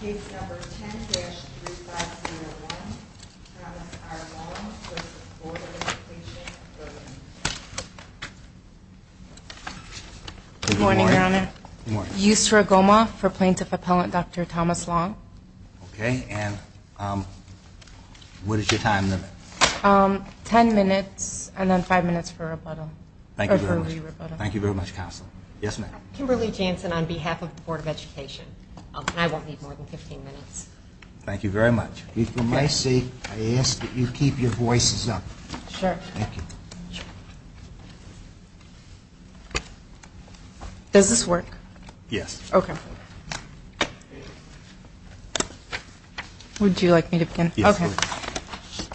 Case number 10-3501, Thomas R. Long v. Board of Education, Burbank Good morning, Your Honor. Good morning. Yusra Goma for Plaintiff Appellant Dr. Thomas Long. Okay, and what is your time limit? Ten minutes and then five minutes for rebuttal. Thank you very much. Thank you very much, Counselor. Yes, ma'am. Kimberly Jansen on behalf of the Board of Education. I won't need more than 15 minutes. Thank you very much. And for my sake, I ask that you keep your voices up. Sure. Thank you. Does this work? Yes. Okay. Would you like me to begin? Yes, please. Okay.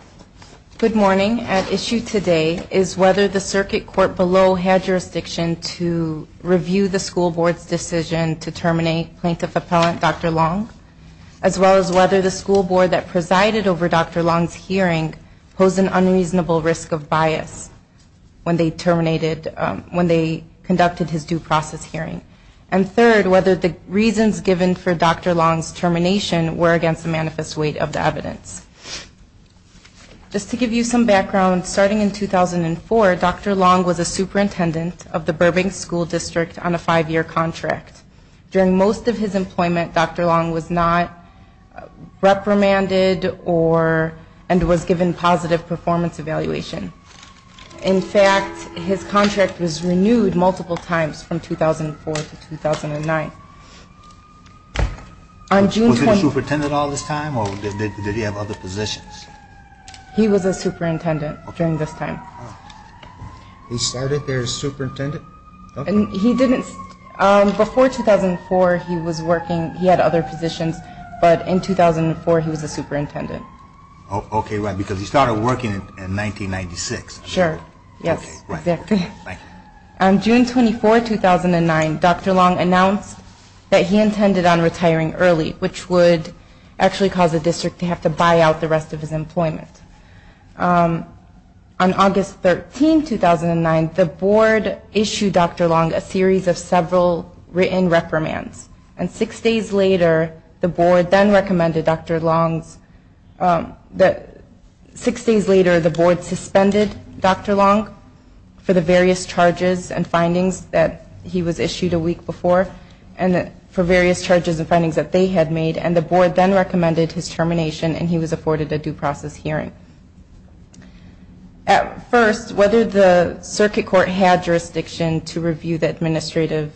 Good morning. At issue today is whether the circuit court below had jurisdiction to review the school board's decision to terminate Plaintiff Appellant Dr. Long, as well as whether the school board that presided over Dr. Long's hearing posed an unreasonable risk of bias when they terminated when they conducted his due process hearing. And third, whether the reasons given for Dr. Long's termination were against the manifest weight of the evidence. Just to give you some background, starting in 2004, Dr. Long was a superintendent of the Burbank School District on a five-year contract. During most of his employment, Dr. Long was not reprimanded and was given positive performance evaluation. In fact, his contract was renewed multiple times from 2004 to 2009. Was he a superintendent all this time, or did he have other positions? He was a superintendent during this time. He started there as superintendent? He didn't. Before 2004, he was working. He had other positions. But in 2004, he was a superintendent. Okay. Right. Because he started working in 1996. Sure. Yes. Exactly. Right. In 2009, Dr. Long announced that he intended on retiring early, which would actually cause the district to have to buy out the rest of his employment. On August 13, 2009, the board issued Dr. Long a series of several written reprimands. And six days later, the board then recommended Dr. Long's – six days later, the board suspended Dr. Long for the various charges and findings that he was issued a week before, and for various charges and findings that they had made. And the board then recommended his termination, and he was afforded a due process hearing. At first, whether the circuit court had jurisdiction to review the administrative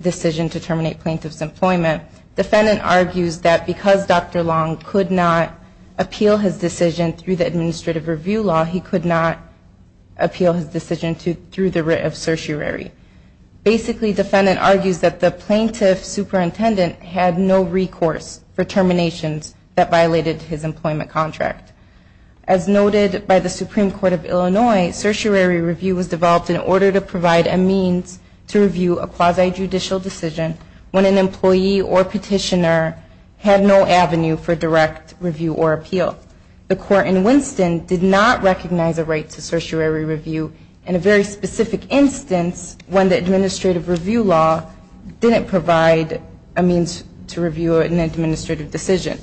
decision to terminate plaintiff's employment, defendant argues that because Dr. Long could not appeal his decision through the administrative review law, he could not appeal his decision through the writ of certiorari. Basically, defendant argues that the plaintiff superintendent had no recourse for terminations that violated his employment contract. As noted by the Supreme Court of Illinois, certiorari review was developed in order to provide a means to review a quasi-judicial decision when an employee or petitioner had no avenue for direct review or appeal. The court in Winston did not recognize a right to certiorari review in a very specific instance when the administrative review law didn't provide a means to review an administrative decision.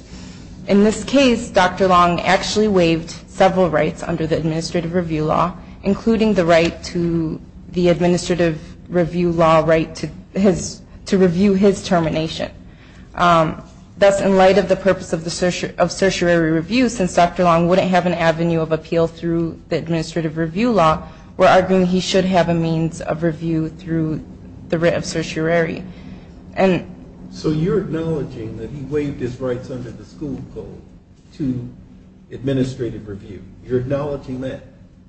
In this case, Dr. Long actually waived several rights under the administrative review law, including the right to the administrative review law right to his – to review his termination. Thus, in light of the purpose of certiorari review, since Dr. Long wouldn't have an avenue of appeal through the administrative review law, we're arguing he should have a means of review through the writ of certiorari. And – So you're acknowledging that he waived his rights under the school code to administrative review. You're acknowledging that?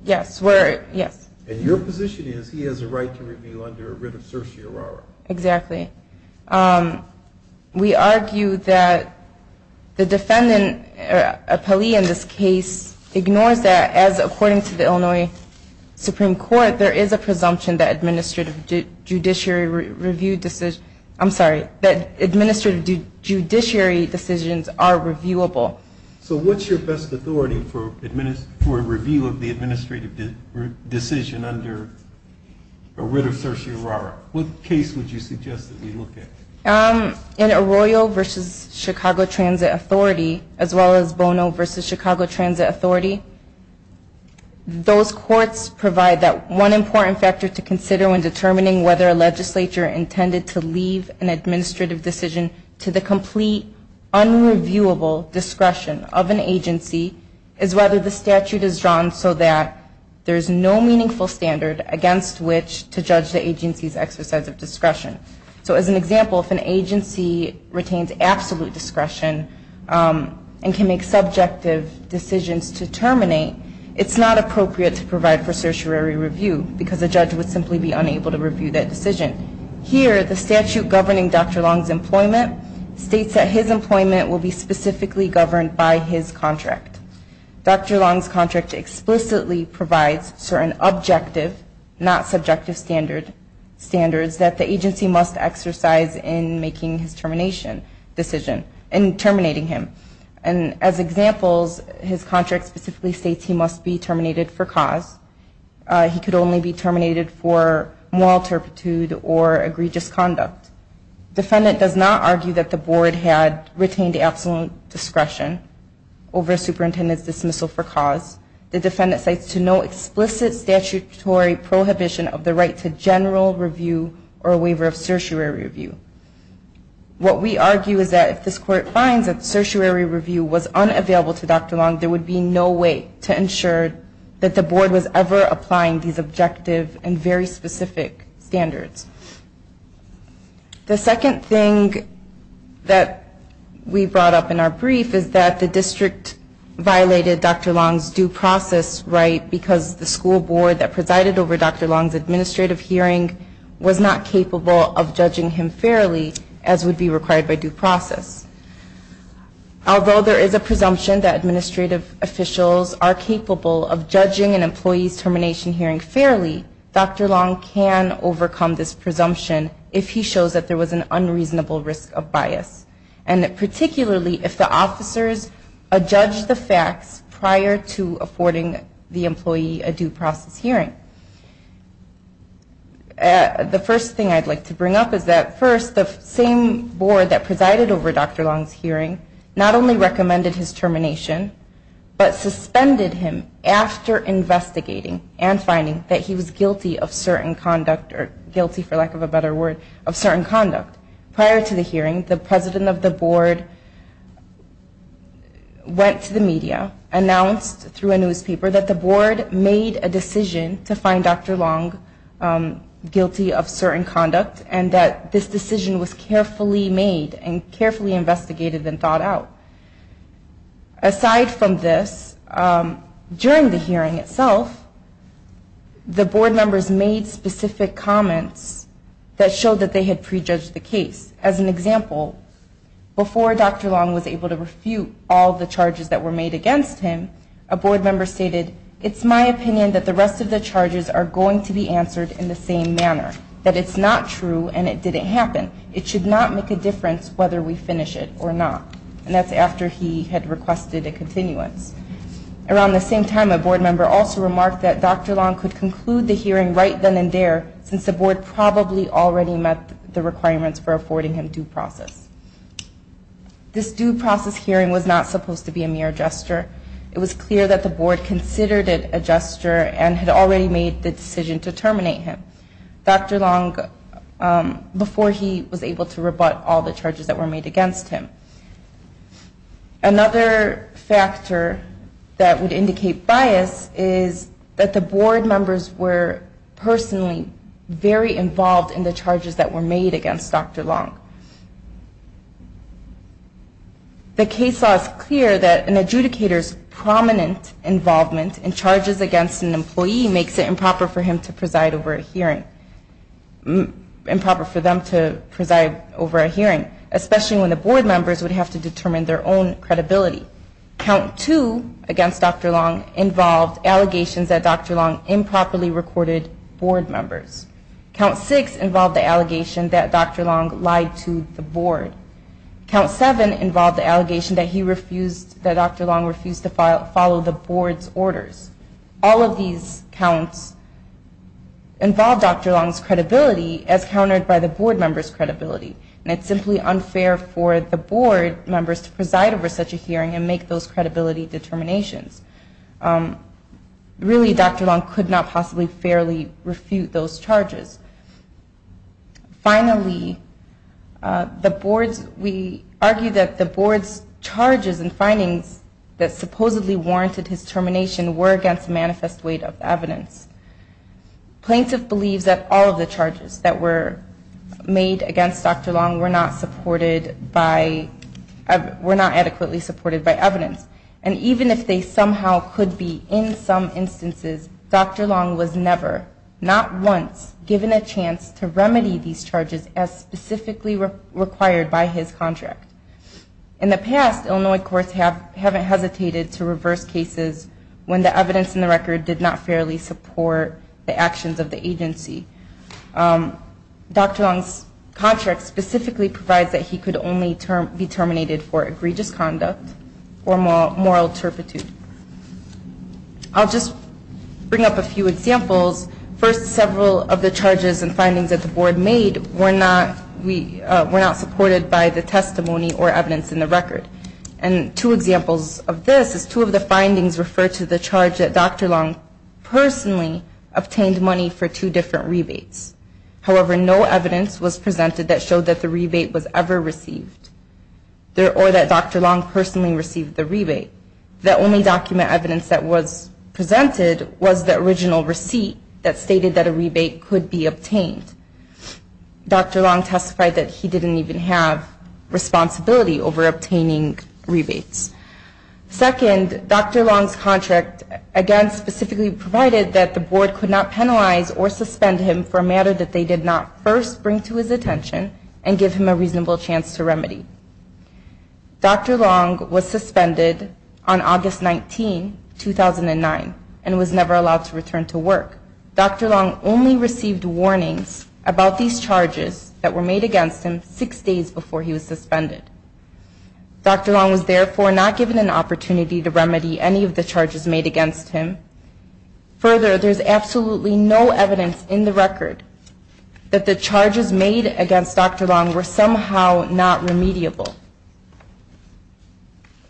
Yes, we're – yes. And your position is he has a right to review under a writ of certiorari. Exactly. We argue that the defendant, a plea in this case, ignores that as according to the Illinois Supreme Court, there is a presumption that administrative judiciary review – I'm sorry, that administrative judiciary decisions are reviewable. So what's your best authority for a review of the administrative decision under a writ of certiorari? What case would you suggest that we look at? In Arroyo v. Chicago Transit Authority, as well as Bono v. Chicago Transit Authority, those courts provide that one important factor to consider when determining whether a legislature intended to leave an administrative decision to the complete unreviewable discretion of an agency is whether the statute is drawn so that there's no meaningful standard against which to judge the agency's exercise of discretion. So as an example, if an agency retains absolute discretion and can make subjective decisions to terminate, it's not appropriate to provide for certiorari review because a judge would simply be unable to review that decision. Here, the statute governing Dr. Long's employment states that his employment will be specifically governed by his contract. Dr. Long's contract explicitly provides certain objective, not subjective standards that the agency must exercise in making his termination decision, in terminating him. And as examples, his contract specifically states he must be terminated for cause. He could only be terminated for moral turpitude or egregious conduct. Defendant does not argue that the board had retained absolute discretion over superintendent's dismissal for cause. The defendant cites to no explicit statutory prohibition of the right to general review or waiver of certiorari review. What we argue is that if this court finds that certiorari review was unavailable to Dr. Long, there would be no way to ensure that the board was ever applying these objective and very specific standards. The second thing that we brought up in our brief is that the district violated Dr. Long's due process right because the school board that presided over Dr. Long's administrative hearing was not capable of judging him fairly, as would be required by due process. Although there is a presumption that administrative officials are capable of judging an employee's termination hearing fairly, Dr. Long can overcome this presumption if he shows that there was an unreasonable risk of bias, and particularly if the officers adjudged the facts prior to affording the employee a due process hearing. The first thing I'd like to bring up is that first, the same board that presided over Dr. Long's hearing not only recommended his termination, but suspended him after investigating and finding that he was guilty of certain conduct, or guilty, for lack of a better word, of certain conduct. Prior to the hearing, the president of the board went to the media, announced through a newspaper that the board made a decision to find Dr. Long guilty of certain conduct, and that this decision was carefully made and carefully investigated and thought out. Aside from this, during the hearing itself, the board members made specific comments that showed that they had prejudged the case. As an example, before Dr. Long was able to refute all the charges that were made against him, a board member stated, it's my opinion that the rest of the charges are going to be answered in the same manner, that it's not true and it didn't happen. It should not make a difference whether we finish it or not. And that's after he had requested a continuance. Around the same time, a board member also remarked that Dr. Long could conclude the hearing right then and there, since the board probably already met the requirements for affording him due process. This due process hearing was not supposed to be a mere gesture. It was clear that the board considered it a gesture and had already made the decision to terminate him, Dr. Long, before he was able to rebut all the charges that were made against him. Another factor that would indicate bias is that the board members were personally very involved in the charges that were made against Dr. Long. The case law is clear that an adjudicator's prominent involvement in charges against an employee makes it improper for him to preside over a hearing. Improper for them to preside over a hearing, especially when the board members would have to determine their own credibility. Count two against Dr. Long involved allegations that Dr. Long improperly recorded board members. Count six involved the allegation that Dr. Long lied to the board. Count seven involved the allegation that Dr. Long refused to follow the board's orders. All of these counts involved Dr. Long's credibility as countered by the board members' credibility. And it's simply unfair for the board members to preside over such a hearing and make those credibility determinations. Really, Dr. Long could not possibly fairly refute those charges. Finally, we argue that the board's charges and findings that supposedly warranted his termination were against manifest weight of evidence. Plaintiff believes that all of the charges that were made against Dr. Long were not adequately supported by evidence. And even if they somehow could be in some instances, Dr. Long was never, not once, given a chance to remedy these charges as specifically required by his contract. In the past, Illinois courts haven't hesitated to reverse cases when the evidence in the record did not fairly support the actions of the agency. Dr. Long's contract specifically provides that he could only be terminated for egregious conduct or malpractice. In the past, Illinois courts have not hesitated to reverse cases when the evidence in the record did not fairly support the actions of the agency. I'll just bring up a few examples. First, several of the charges and findings that the board made were not supported by the testimony or evidence in the record. And two examples of this is two of the findings refer to the charge that Dr. Long personally obtained money for two different rebates. However, no evidence was presented that showed that the rebate was ever received or that Dr. Long personally received the rebate. The only document evidence that was presented was the original receipt that stated that a rebate could be obtained. Dr. Long testified that he didn't even have responsibility over obtaining rebates. Second, Dr. Long's contract again specifically provided that the board could not penalize or suspend him for a matter that they did not first bring to his attention and give him a reasonable chance to remedy. Dr. Long was suspended on August 19, 2009, and was never allowed to return to work. Dr. Long only received warnings about these charges that were made against him six days before he was suspended. Dr. Long was therefore not given an opportunity to remedy any of the charges made against him. Further, there's absolutely no evidence in the record that the charges made against Dr. Long were somehow not remediable.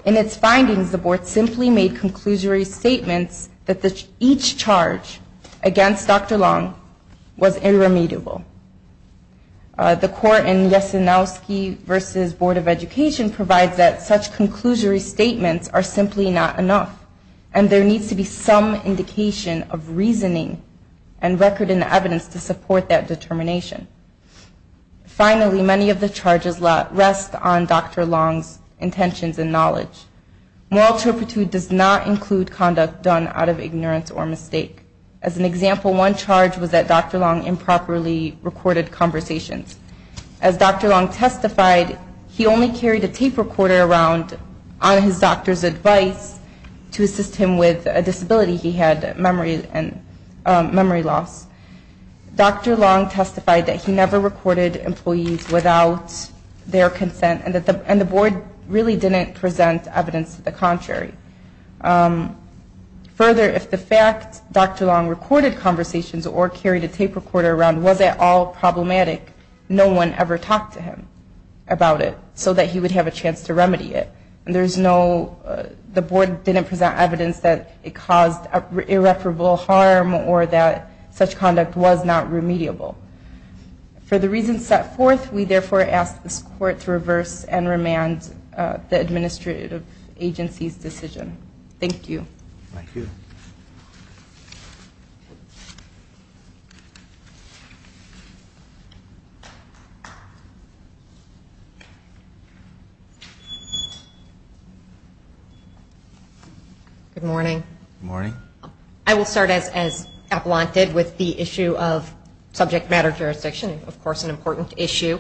In its findings, the board simply made conclusory statements that each charge against Dr. Long was irremediable. The court in Yesenowski v. Board of Education provides that such conclusory statements are simply not enough, and there needs to be some indication of reasoning and record in the evidence to support that determination. Finally, many of the charges rest on Dr. Long's intentions and knowledge. Moral turpitude does not include conduct done out of ignorance or mistake. As an example, one charge was that Dr. Long improperly recorded conversations. As Dr. Long testified, he only carried a tape recorder around on his doctor's advice to assist him with a disability he had, memory loss. Dr. Long testified that he never recorded employees without their consent, and the board really didn't present evidence to the contrary. Further, if the fact Dr. Long recorded conversations or carried a tape recorder around was at all problematic, no one ever talked to him about it so that he would have a chance to remedy it. The board did not present evidence that it caused irreparable harm or that such conduct was not remediable. For the reasons set forth, we therefore ask this court to reverse and remand the administrative agency's decision. Thank you. Good morning. I will start as Appelant did with the issue of subject matter jurisdiction, of course an important issue.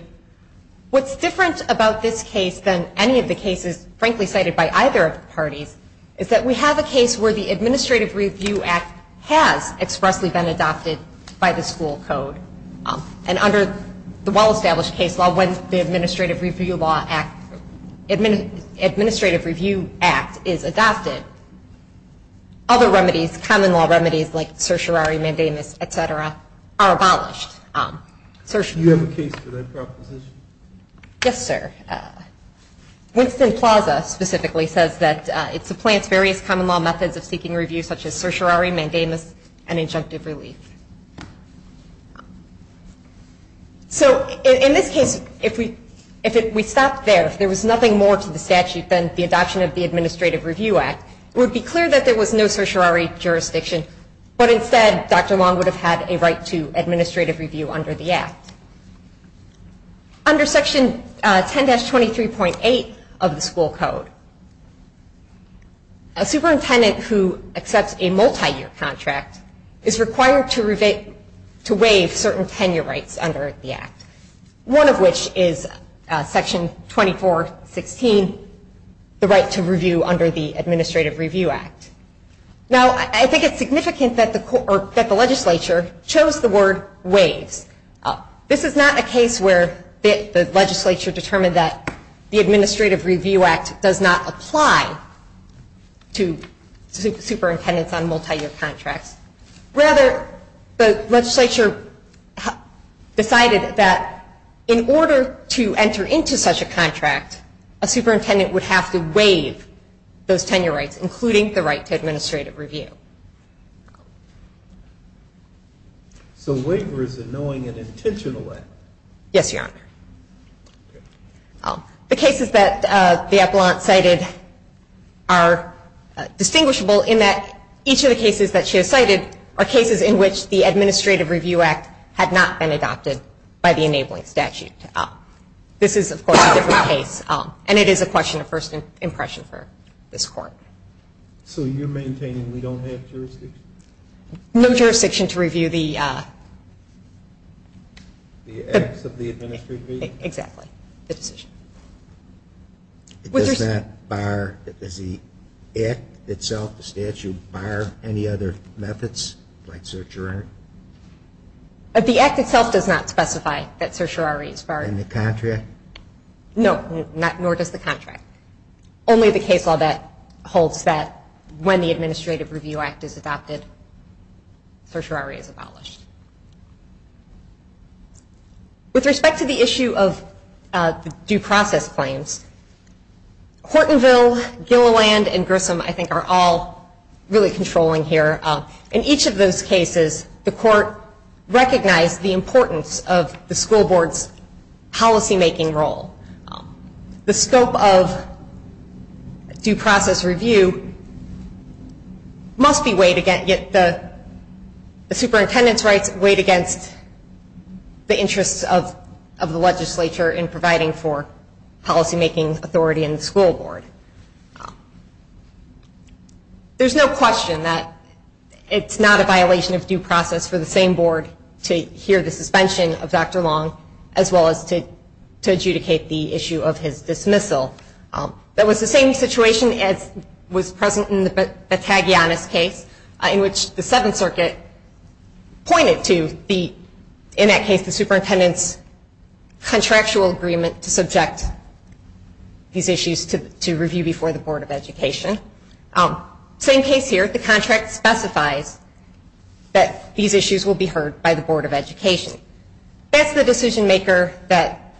What's different about this case than any of the cases, frankly, cited by either of the parties, is that we have a case where the Administrative Review Act has expressly been adopted by the school code. And under the well-established case law, when the Administrative Review Act is adopted, other remedies, common law remedies, like certiorari, mandamus, etc., are abolished. Do you have a case for that proposition? Yes, sir. Winston Plaza specifically says that it supplants various common law methods of seeking review, such as certiorari, mandamus, and injunctive relief. So, in this case, if we stopped there, if there was nothing more to the statute than the adoption of the Administrative Review Act, it would be clear that there was no certiorari jurisdiction, but instead Dr. Long would have had a right to administrative review under the Act. Under Section 10-23.8 of the school code, a superintendent who accepts a multi-year contract is required to waive certain requirements. There are certain tenure rights under the Act, one of which is Section 24-16, the right to review under the Administrative Review Act. Now, I think it's significant that the legislature chose the word waives. This is not a case where the legislature determined that the Administrative Review Act does not apply to superintendents on multi-year contracts. Rather, the legislature decided that in order to enter into such a contract, a superintendent would have to waive those tenure rights, including the right to administrative review. So, waiver is a knowing and intentional act? Yes, Your Honor. The cases that the appellant cited are distinguishable in that each of the cases that she has cited is a knowing and intentional act. The cases that the appellant cited are cases in which the Administrative Review Act had not been adopted by the enabling statute. This is, of course, a different case, and it is a question of first impression for this Court. So you're maintaining we don't have jurisdiction? No jurisdiction to review the... The acts of the Administrative Review Act? Exactly. The decision. Does the act itself, the statute, bar any other methods like certiorari? The act itself does not specify that certiorari is barred. In the contract? No, nor does the contract. Only the case law that holds that when the Administrative Review Act is adopted, certiorari is abolished. With respect to the issue of due process claims, Hortonville, Gilliland, and Grissom, I think, are all really controlling here. In each of those cases, the Court recognized the importance of the school board's policymaking role. The scope of due process review must be a way to get the superintendents' right to review. The rights weighed against the interests of the legislature in providing for policymaking authority in the school board. There's no question that it's not a violation of due process for the same board to hear the suspension of Dr. Long, as well as to adjudicate the issue of his dismissal. That was the same situation as was present in the Bataglianis case, in which the Seventh Circuit pointed to the issue of due process. The Seventh Circuit pointed to, in that case, the superintendent's contractual agreement to subject these issues to review before the Board of Education. Same case here, the contract specifies that these issues will be heard by the Board of Education. That's the decision maker that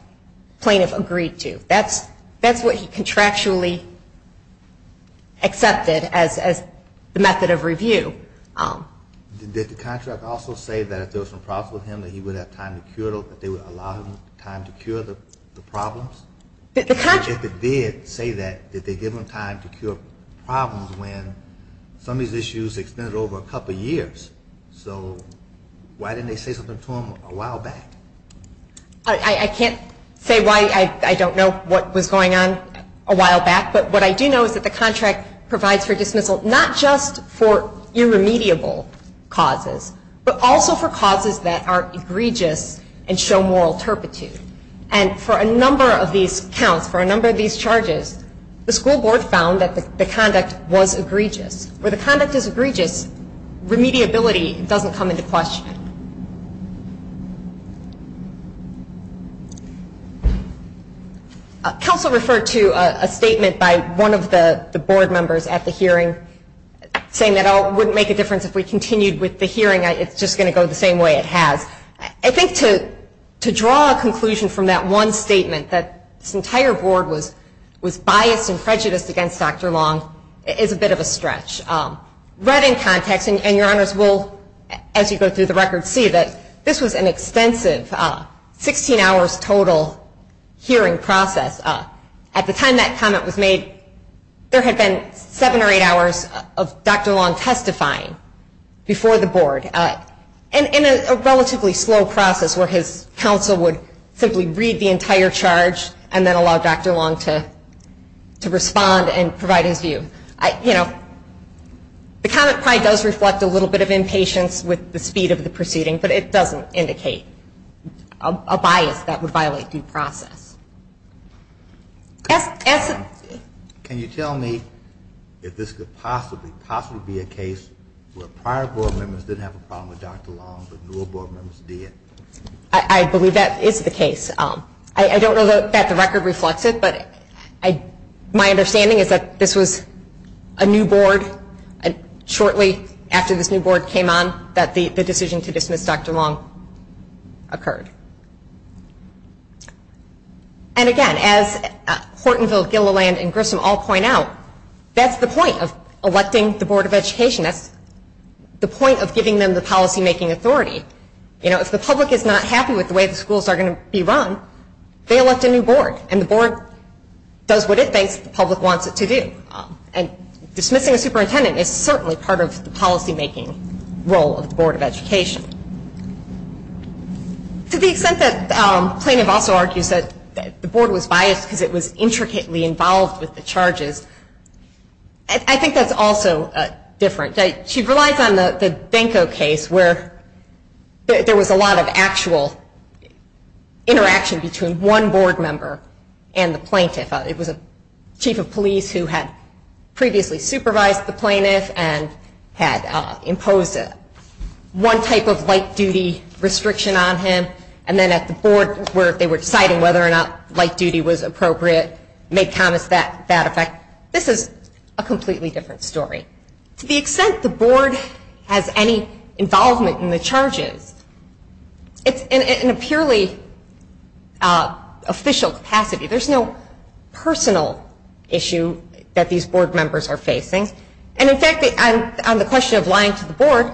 plaintiff agreed to. That's what he contractually accepted as the method of review. Did the plaintiff say that if there were some problems with him, that he would have time to cure them, that they would allow him time to cure the problems? If they did say that, did they give him time to cure problems when some of these issues extended over a couple of years? So, why didn't they say something to him a while back? I can't say why I don't know what was going on a while back, but what I do know is that the contract provides for dismissal, not just for irremediable causes, but also for causes that are egregious and show moral turpitude. And for a number of these counts, for a number of these charges, the school board found that the conduct was egregious. Where the conduct is egregious, remediability doesn't come into question. Counsel referred to a statement by one of the board members at the hearing, saying that it wouldn't make a difference if we continued with the hearing. It's just going to go the same way it has. I think to draw a conclusion from that one statement, that this entire board was biased and prejudiced against Dr. Long, is a bit of a stretch. Right in context, and your honors will, as you go through the record, see that this was an extensive 16 hours total hearing process. At the time that comment was made, there had been seven or eight hours of Dr. Long testifying before the board. In a relatively slow process where his counsel would simply read the entire charge and then allow Dr. Long to respond and provide his view. The comment probably does reflect a little bit of impatience with the speed of the proceeding, but it doesn't indicate a bias that would violate due process. Can you tell me if this could possibly, possibly be a case where prior board members didn't have a problem with Dr. Long, but newer board members did? I believe that is the case. I don't know that the record reflects it, but my understanding is that this was a new board, shortly after this new board came on, that the decision to dismiss Dr. Long occurred. And again, as Hortonville, Gilliland, and Grissom all point out, that's the point of electing the Board of Education. That's the point of giving them the policymaking authority. And then, shortly after Dr. Long, they elect a new board, and the board does what it thinks the public wants it to do. And dismissing a superintendent is certainly part of the policymaking role of the Board of Education. To the extent that plaintiff also argues that the board was biased because it was intricately involved with the charges, I think that's also different. She relies on the Benko case, where there was a lot of actual interaction with the board. There was a lot of interaction between one board member and the plaintiff. It was a chief of police who had previously supervised the plaintiff and had imposed one type of light duty restriction on him. And then at the board, where they were deciding whether or not light duty was appropriate, made comments to that effect. This is a completely different story. To the extent the board has any involvement in the charges, it's in a purely official capacity. There's no personal issue that these board members are facing. And in fact, on the question of lying to the board,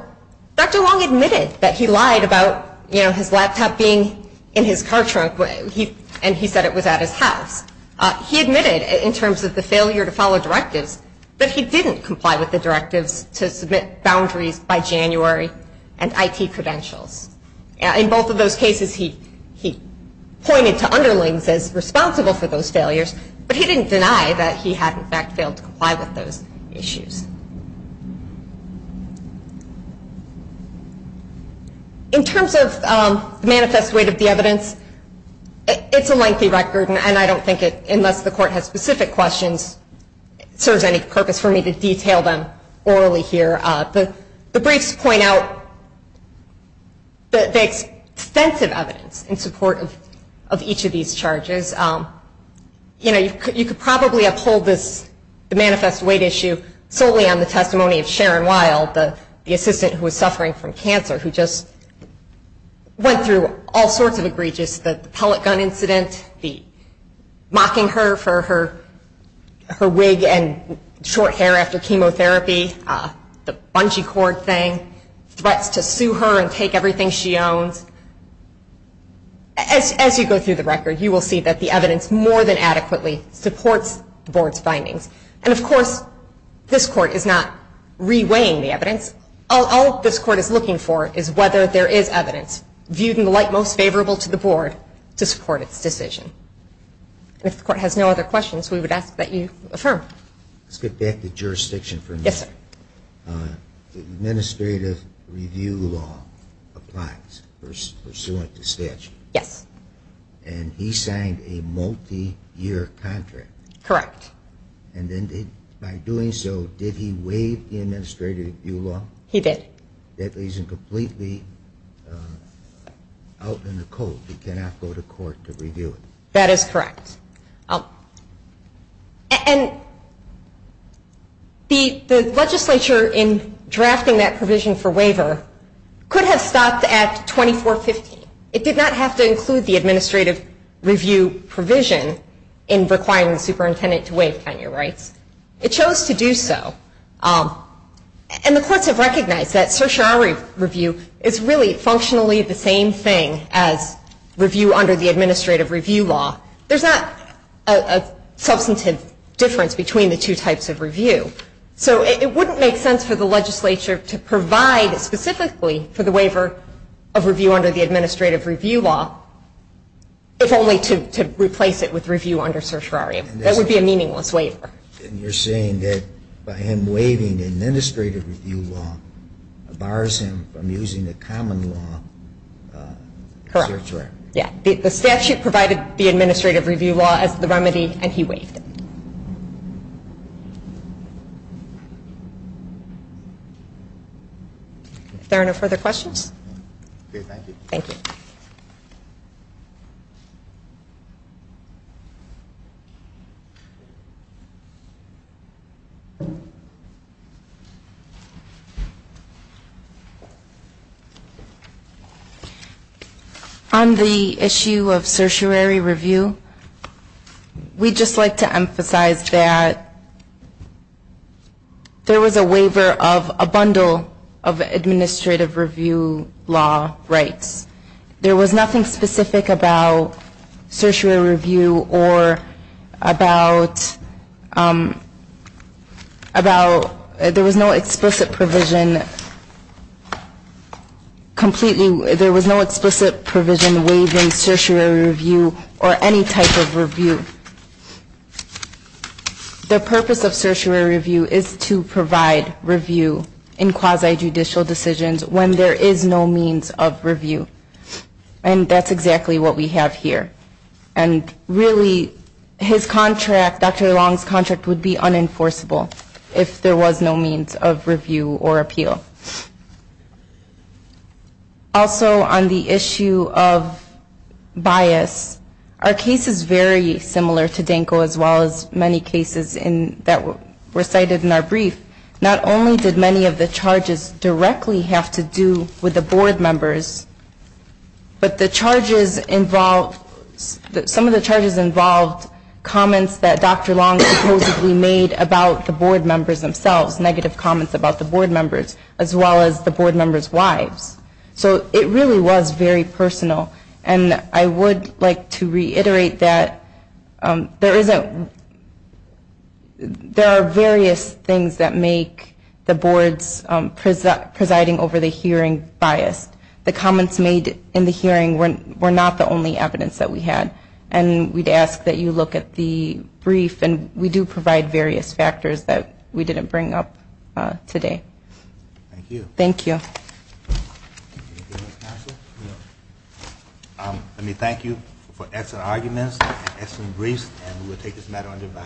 Dr. Long admitted that he lied about his laptop being in his car trunk, and he said it was at his house. He admitted, in terms of the failure to follow directives, that he didn't comply with the directives to submit boundaries by January and IT credentials. In both of those cases, he pointed to underlings as responsible for those failures, but he didn't deny that he had, in fact, failed to comply with those issues. In terms of the manifest weight of the evidence, it's a lengthy record, and I don't think it's going to be long. Unless the court has specific questions, it serves any purpose for me to detail them orally here. The briefs point out the extensive evidence in support of each of these charges. You know, you could probably uphold the manifest weight issue solely on the testimony of Sharon Wild, the assistant who was suffering from cancer, who just went through all sorts of egregious, the pellet gun incident, the mob shooting incident, the murder of a child. The fact that she was locked up for her wig and short hair after chemotherapy, the bungee cord thing, threats to sue her and take everything she owns. As you go through the record, you will see that the evidence more than adequately supports the board's findings. And of course, this court is not re-weighing the evidence. All this court is looking for is whether there is evidence viewed in the light most favorable to the board to support its decision. If the court has no other questions, we would ask that you affirm. Let's get back to jurisdiction for a minute. Administrative review law applies pursuant to statute. Yes. And he signed a multi-year contract. Correct. And by doing so, did he waive the administrative review law? He did. That isn't completely out in the cold. He cannot go to court to review it. That is correct. And the legislature in drafting that provision for waiver could have stopped at 2415. It did not have to include the administrative review provision in requiring the superintendent to waive county rights. It chose to do so. And the courts have recognized that certiorari review is really functionally the same thing as review under the administrative review law. There is not a substantive difference between the two types of review. So it wouldn't make sense for the legislature to provide specifically for the waiver of review under the administrative review law, if only to replace it with review under certiorari. That would be a meaningless waiver. And you are saying that by him waiving the administrative review law bars him from using the common law? Correct. The statute provided the administrative review law as the remedy and he waived it. If there are no further questions. Thank you. On the issue of certiorari review, we would just like to emphasize that there was a waiver of a bundle of administrative review law rights. There was nothing specific about certiorari review or about there was no explicit provision completely. There was no explicit provision waiving certiorari review or any type of review. The purpose of certiorari review is to provide review in quasi-judicial decisions when there is no means of review. And that's exactly what we have here. And really his contract, Dr. Long's contract would be unenforceable if there was no means of review or appeal. Also on the issue of bias, our case is very similar to Danko as well as many cases that were cited in our brief. Not only did many of the charges directly have to do with the board members, but the charges involved, some of the charges involved comments that Dr. Long supposedly made about the board members themselves, negative comments about the board members. As well as the board members' wives. So it really was very personal. And I would like to reiterate that there are various things that make the board's presiding over the hearing biased. The comments made in the hearing were not the only evidence that we had. And we'd ask that you look at the brief and we do provide various factors that we didn't bring up today. Thank you. Let me thank you for excellent arguments, excellent briefs, and we will take this matter under review.